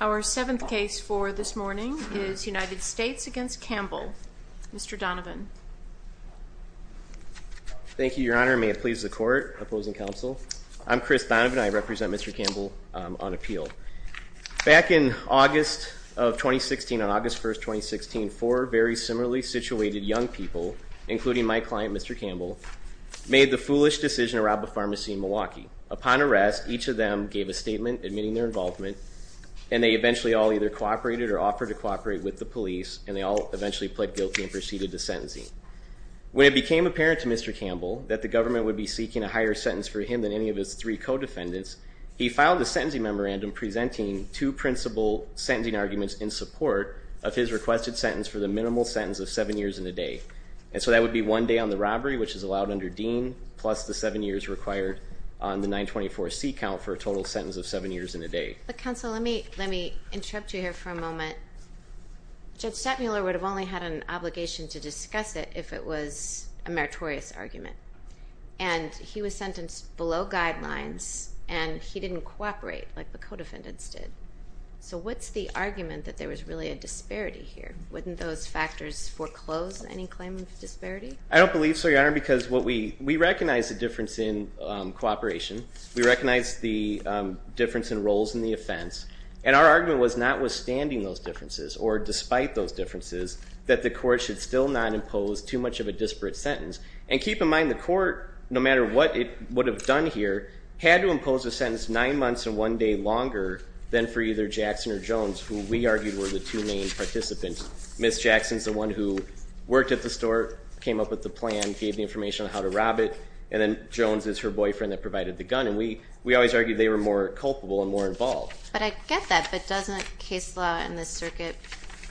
Our seventh case for this morning is United States v. Campbell. Mr. Donovan. Thank you, Your Honor. May it please the Court, Opposing Counsel. I'm Chris Donovan. I represent Mr. Campbell on appeal. Back in August of 2016, on August 1, 2016, four very similarly situated young people, including my client, Mr. Campbell, made the foolish decision to rob a pharmacy in Milwaukee. Upon arrest, each of them gave a statement admitting their involvement, and they eventually all either cooperated or offered to cooperate with the police, and they all eventually pled guilty and proceeded to sentencing. When it became apparent to Mr. Campbell that the government would be seeking a higher sentence for him than any of his three co-defendants, he filed a sentencing memorandum presenting two principal sentencing arguments in support of his requested sentence for the minimal sentence of seven years and a day. And so that would be one day on the robbery, which is allowed under Dean, plus the seven years required on the 924C count for a total sentence of seven years and a day. Counsel, let me interrupt you here for a moment. Judge Stettmuller would have only had an obligation to discuss it if it was a meritorious argument. And he was sentenced below guidelines, and he didn't cooperate like the co-defendants did. So what's the argument that there was really a disparity here? Wouldn't those factors foreclose any claim of disparity? I don't believe so, Your Honor, because we recognize the difference in cooperation. We recognize the difference in roles in the offense. And our argument was notwithstanding those differences, or despite those differences, that the court should still not impose too much of a disparate sentence. And keep in mind, the court, no matter what it would have done here, had to impose a sentence nine months and one day longer than for either Jackson or Jones, who we argued were the two main participants. Ms. Jackson's the one who worked at the store, came up with the plan, gave the information on how to rob it, and then Jones is her boyfriend that provided the gun. And we always argued they were more culpable and more involved. But I get that, but doesn't case law in this circuit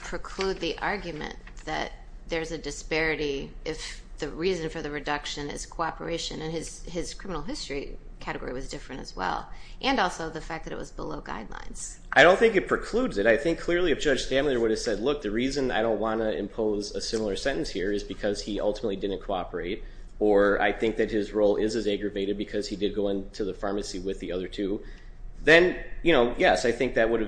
preclude the argument that there's a disparity if the reason for the reduction is cooperation? And his criminal history category was different as well, and also the fact that it was below guidelines. I don't think it precludes it. I think clearly if Judge Stamler would have said, look, the reason I don't want to impose a similar sentence here is because he ultimately didn't cooperate, or I think that his role is as aggravated because he did go into the pharmacy with the other two, then yes, I think that would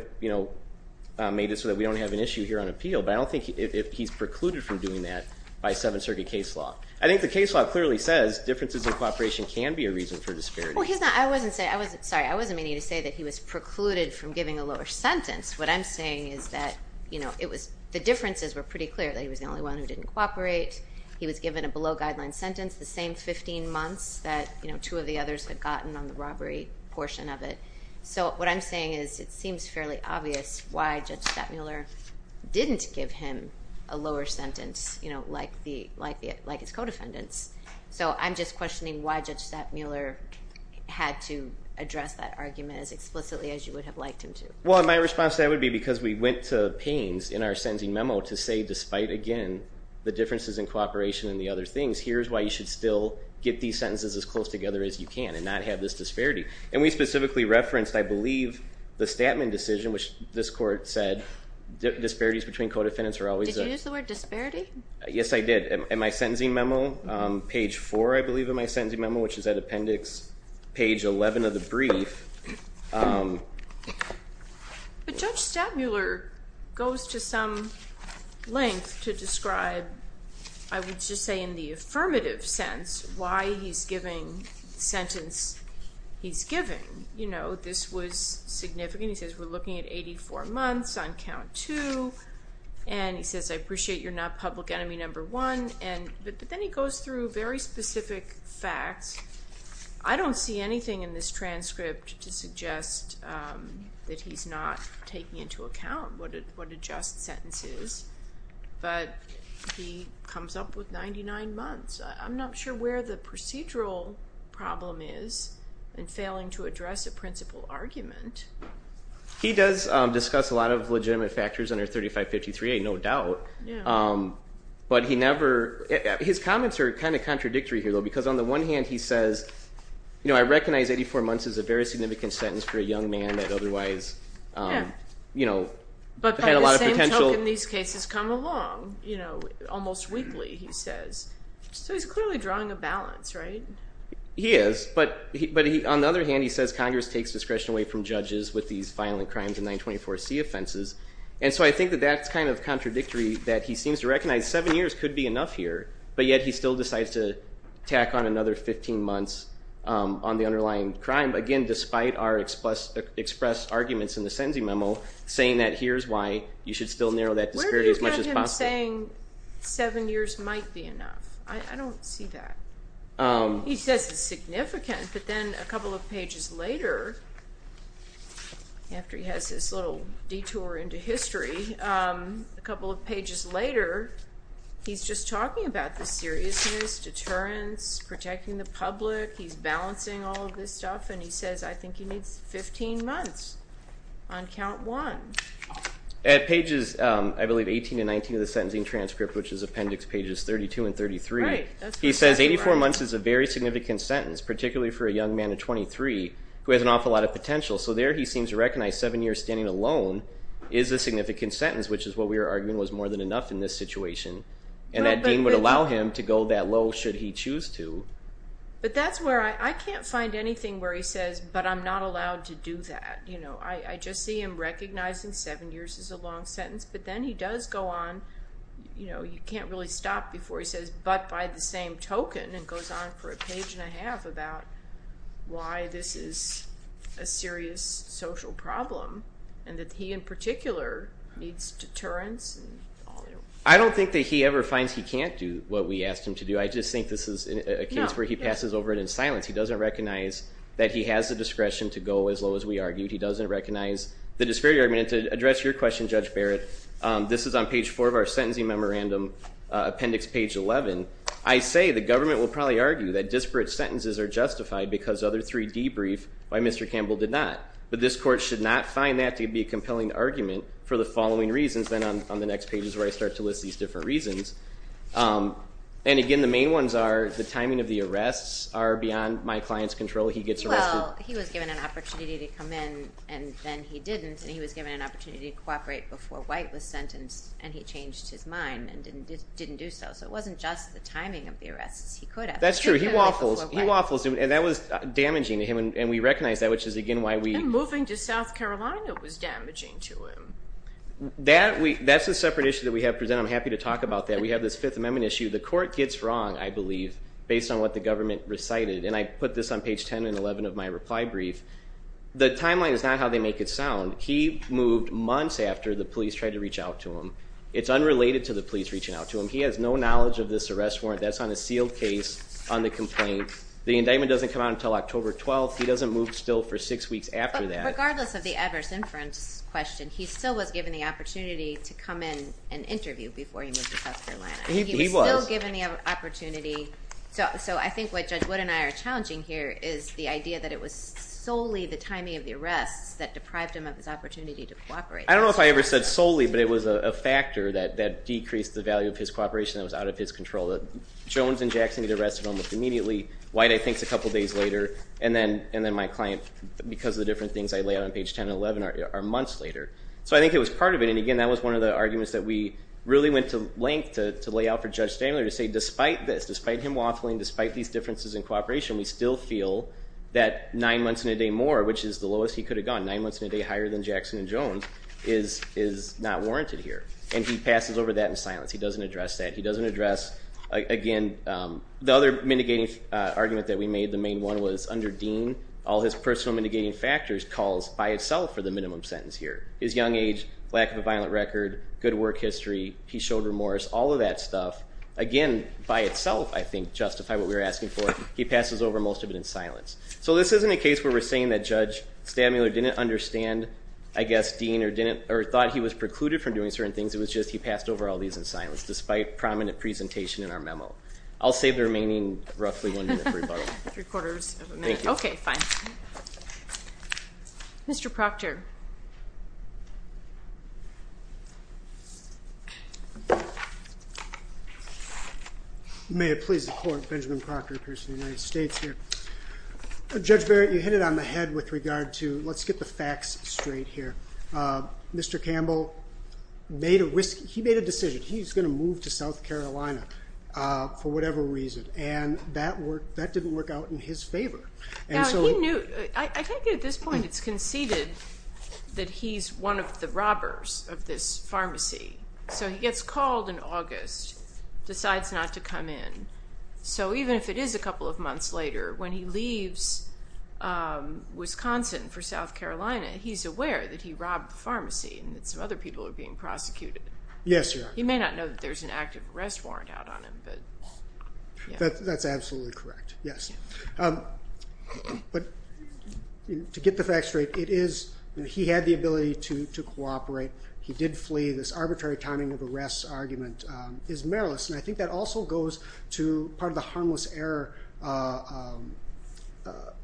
have made it so that we don't have an issue here on appeal. But I don't think he's precluded from doing that by Seventh Circuit case law. I think the case law clearly says differences in cooperation can be a reason for disparity. Well, I wasn't meaning to say that he was precluded from giving a lower sentence. What I'm saying is that the differences were pretty clear that he was the only one who didn't cooperate. He was given a below guidelines sentence the same 15 months that two of the others had gotten on the robbery portion of it. So what I'm saying is it seems fairly obvious why Judge Stamler didn't give him a lower sentence like his co-defendants. So I'm just questioning why Judge Stamler had to address that argument as explicitly as you would have liked him to. Well, my response to that would be because we went to Paines in our sentencing memo to say, despite, again, the differences in cooperation and the other things, here's why you should still get these sentences as close together as you can and not have this disparity. And we specifically referenced, I believe, the Statman decision, which this court said disparities between co-defendants are always there. Did you use the word disparity? Yes, I did. In my sentencing memo, page 4, I believe, of my sentencing memo, which is at appendix page 11 of the brief. But Judge Stamler goes to some length to describe, I would just say in the affirmative sense, why he's giving the sentence he's giving. You know, this was significant. He says, we're looking at 84 months on count two. And he says, I appreciate you're not public enemy number one. But then he goes through very specific facts. I don't see anything in this transcript to suggest that he's not taking into account what a just sentence is. But he comes up with 99 months. I'm not sure where the procedural problem is in failing to address a principal argument. He does discuss a lot of legitimate factors under 3553A, no doubt. But his comments are kind of contradictory here, though, because on the one hand, he says, I recognize 84 months is a very significant sentence for a young man that otherwise had a lot of potential. How can these cases come along? You know, almost weekly, he says. So he's clearly drawing a balance, right? He is. But on the other hand, he says Congress takes discretion away from judges with these violent crimes and 924C offenses. And so I think that that's kind of contradictory, that he seems to recognize seven years could be enough here. But yet he still decides to tack on another 15 months on the underlying crime. Again, despite our expressed arguments in the sentencing memo, saying that here's why you should still narrow that disparity as much as possible. Where do you get him saying seven years might be enough? I don't see that. He says it's significant. But then a couple of pages later, after he has this little detour into history, a couple of pages later, he's just talking about the seriousness, deterrence, protecting the public. He's balancing all of this stuff, and he says, I think he needs 15 months on count one. At pages, I believe, 18 and 19 of the sentencing transcript, which is appendix pages 32 and 33, he says 84 months is a very significant sentence, particularly for a young man of 23 who has an awful lot of potential. So there he seems to recognize seven years standing alone is a significant sentence, which is what we were arguing was more than enough in this situation, and that Dean would allow him to go that low should he choose to. But that's where I can't find anything where he says, but I'm not allowed to do that. I just see him recognizing seven years is a long sentence, but then he does go on. You can't really stop before he says, but by the same token, and goes on for a page and a half about why this is a serious social problem, and that he in particular needs deterrence. I don't think that he ever finds he can't do what we asked him to do. I just think this is a case where he passes over it in silence. He doesn't recognize that he has the discretion to go as low as we argued. He doesn't recognize the disparity argument. And to address your question, Judge Barrett, this is on page four of our sentencing memorandum, appendix page 11. I say the government will probably argue that disparate sentences are justified because other three debrief by Mr. Campbell did not. But this court should not find that to be a compelling argument for the following reasons, then on the next page is where I start to list these different reasons. And again, the main ones are the timing of the arrests are beyond my client's control. He gets arrested. Well, he was given an opportunity to come in, and then he didn't, and he was given an opportunity to cooperate before White was sentenced, and he changed his mind and didn't do so. So it wasn't just the timing of the arrests. He could have. That's true. He waffles. He waffles. And that was damaging to him, and we recognize that, which is again why we... And moving to South Carolina was damaging to him. That's a separate issue that we have presented. And I'm happy to talk about that. We have this Fifth Amendment issue. The court gets wrong, I believe, based on what the government recited, and I put this on page 10 and 11 of my reply brief. The timeline is not how they make it sound. He moved months after the police tried to reach out to him. It's unrelated to the police reaching out to him. He has no knowledge of this arrest warrant. That's on a sealed case on the complaint. The indictment doesn't come out until October 12th. He doesn't move still for six weeks after that. Regardless of the adverse inference question, he still was given the opportunity to come in and interview before he moved to South Carolina. He was. He was still given the opportunity. So I think what Judge Wood and I are challenging here is the idea that it was solely the timing of the arrests that deprived him of his opportunity to cooperate. I don't know if I ever said solely, but it was a factor that decreased the value of his cooperation that was out of his control. Jones and Jackson get arrested almost immediately. White, I think, is a couple days later. And then my client, because of the different things I lay out on page 10 and 11, are months later. So I think it was part of it. And, again, that was one of the arguments that we really went to length to lay out for Judge Stanley to say, despite this, despite him waffling, despite these differences in cooperation, we still feel that nine months and a day more, which is the lowest he could have gone, nine months and a day higher than Jackson and Jones, is not warranted here. And he passes over that in silence. He doesn't address that. He doesn't address, again, the other mitigating argument that we made, the main one was under Dean, all his personal mitigating factors calls by itself for the minimum sentence here. His young age, lack of a violent record, good work history, he showed remorse, all of that stuff. Again, by itself, I think, justify what we were asking for. He passes over most of it in silence. So this isn't a case where we're saying that Judge Stamler didn't understand, I guess, Dean, or thought he was precluded from doing certain things. It was just he passed over all these in silence, despite prominent presentation in our memo. I'll save the remaining roughly one minute for rebuttal. Three quarters of a minute. Thank you. Okay, fine. Mr. Proctor. May it please the Court, Benjamin Proctor, a person of the United States here. Judge Barrett, you hit it on the head with regard to, let's get the facts straight here. Mr. Campbell, he made a decision. He's going to move to South Carolina for whatever reason, and that didn't work out in his favor. I think at this point it's conceded that he's one of the robbers of this pharmacy. So he gets called in August, decides not to come in. So even if it is a couple of months later, when he leaves Wisconsin for South Carolina, he's aware that he robbed the pharmacy and that some other people are being prosecuted. Yes, Your Honor. He may not know that there's an active arrest warrant out on him. That's absolutely correct, yes. But to get the facts straight, he had the ability to cooperate. He did flee. This arbitrary timing of arrest argument is meriless. And I think that also goes to part of the harmless error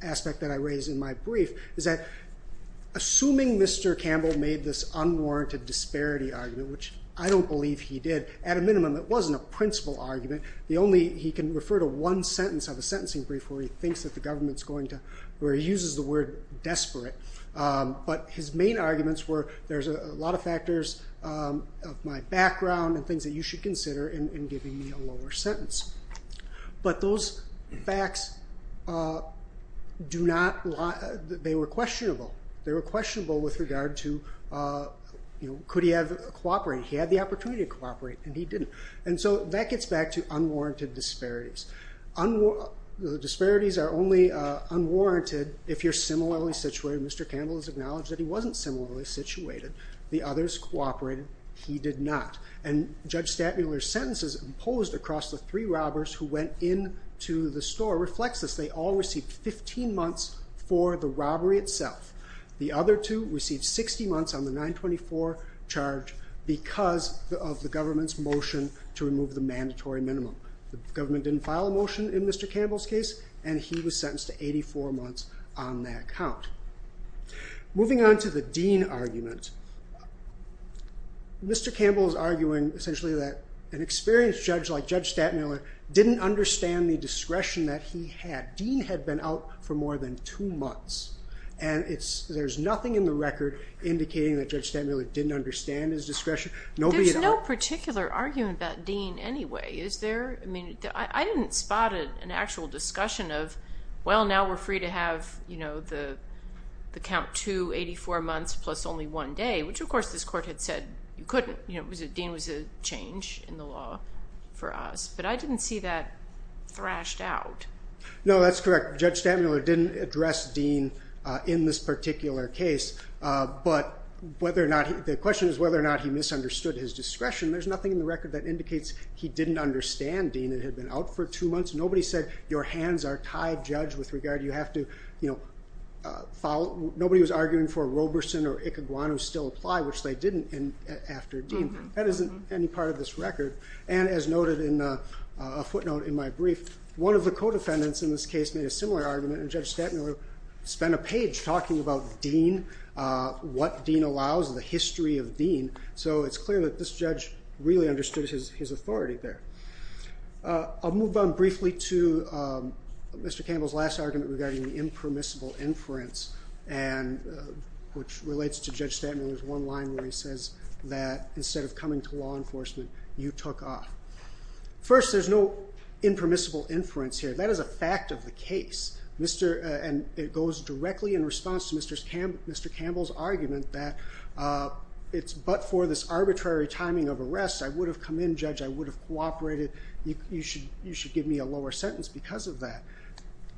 aspect that I raised in my brief, is that assuming Mr. Campbell made this unwarranted disparity argument, which I don't believe he did, at a minimum it wasn't a principal argument. He can refer to one sentence of a sentencing brief where he thinks that the government's going to, where he uses the word desperate. But his main arguments were there's a lot of factors of my background and things that you should consider in giving me a lower sentence. But those facts do not lie. They were questionable. They were questionable with regard to could he have cooperated. He had the opportunity to cooperate, and he didn't. And so that gets back to unwarranted disparities. The disparities are only unwarranted if you're similarly situated. Mr. Campbell has acknowledged that he wasn't similarly situated. The others cooperated. He did not. And Judge Statmuller's sentences imposed across the three robbers who went into the store reflects this. They all received 15 months for the robbery itself. The other two received 60 months on the 924 charge because of the government's motion to remove the mandatory minimum. The government didn't file a motion in Mr. Campbell's case, and he was sentenced to 84 months on that count. Moving on to the Dean argument. Mr. Campbell is arguing essentially that an experienced judge like Judge Statmuller didn't understand the discretion that he had. Dean had been out for more than two months, and there's nothing in the record indicating that Judge Statmuller didn't understand his discretion. There's no particular argument about Dean anyway, is there? I didn't spot an actual discussion of, well, now we're free to have the count two, 84 months plus only one day, which, of course, this court had said you couldn't. Dean was a change in the law for us. But I didn't see that thrashed out. No, that's correct. Judge Statmuller didn't address Dean in this particular case. But the question is whether or not he misunderstood his discretion. There's nothing in the record that indicates he didn't understand Dean. It had been out for two months. Nobody said your hands are tied, Judge, with regard to you have to follow. Nobody was arguing for Roberson or Icaguanu still apply, which they didn't after Dean. That isn't any part of this record. And as noted in a footnote in my brief, one of the co-defendants in this case made a similar argument, and Judge Statmuller spent a page talking about Dean, what Dean allows, the history of Dean. So it's clear that this judge really understood his authority there. I'll move on briefly to Mr. Campbell's last argument regarding the impermissible inference, which relates to Judge Statmuller's one line where he says that instead of coming to law enforcement, you took off. First, there's no impermissible inference here. That is a fact of the case. It goes directly in response to Mr. Campbell's argument that it's but for this arbitrary timing of arrest. I would have come in, Judge. I would have cooperated. You should give me a lower sentence because of that.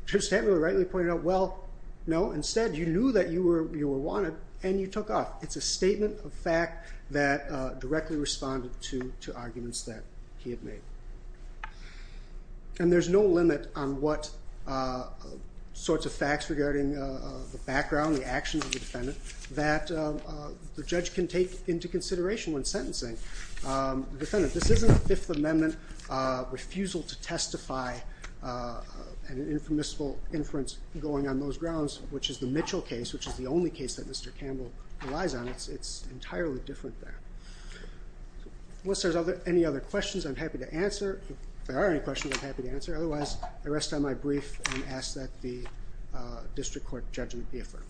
Judge Statmuller rightly pointed out, well, no. Instead, you knew that you were wanted, and you took off. It's a statement of fact that directly responded to arguments that he had made. And there's no limit on what sorts of facts regarding the background, the actions of the defendant, that the judge can take into consideration when sentencing the defendant. This isn't a Fifth Amendment refusal to testify and an impermissible inference going on those grounds, which is the Mitchell case, which is the only case that Mr. Campbell relies on. It's entirely different there. Unless there's any other questions, I'm happy to answer. If there are any questions, I'm happy to answer. Otherwise, I rest on my brief and ask that the district court judgment be affirmed.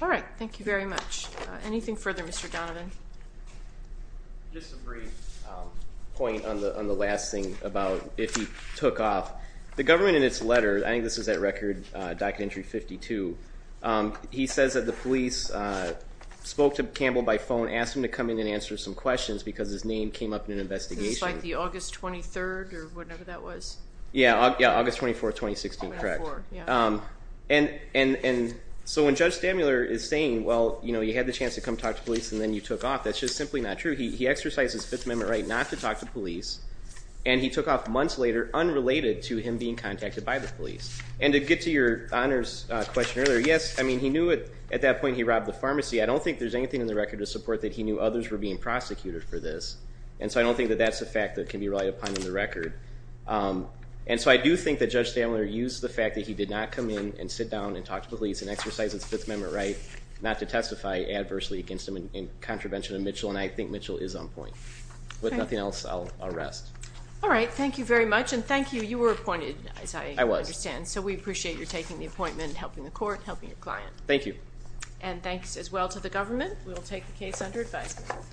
All right. Thank you very much. Anything further, Mr. Donovan? Just a brief point on the last thing about if he took off. The government in its letter, I think this is that record, Document Entry 52, he says that the police spoke to Campbell by phone, asked him to come in and answer some questions because his name came up in an investigation. Is this like the August 23rd or whatever that was? Yeah, August 24th, 2016, correct. And so when Judge Stamler is saying, well, you had the chance to come talk to police and then you took off, that's just simply not true. He exercised his Fifth Amendment right not to talk to police, and he took off months later unrelated to him being contacted by the police. And to get to your honors question earlier, yes, I mean, he knew at that point he robbed the pharmacy. I don't think there's anything in the record to support that he knew others were being prosecuted for this, and so I don't think that that's a fact that can be relied upon in the record. And so I do think that Judge Stamler used the fact that he did not come in and sit down and talk to police and exercise his Fifth Amendment right not to testify adversely against him in contravention of Mitchell, and I think Mitchell is on point. With nothing else, I'll rest. All right. Thank you very much, and thank you. You were appointed, as I understand. And so we appreciate your taking the appointment and helping the court and helping your client. Thank you. And thanks as well to the government. We will take the case under advisement.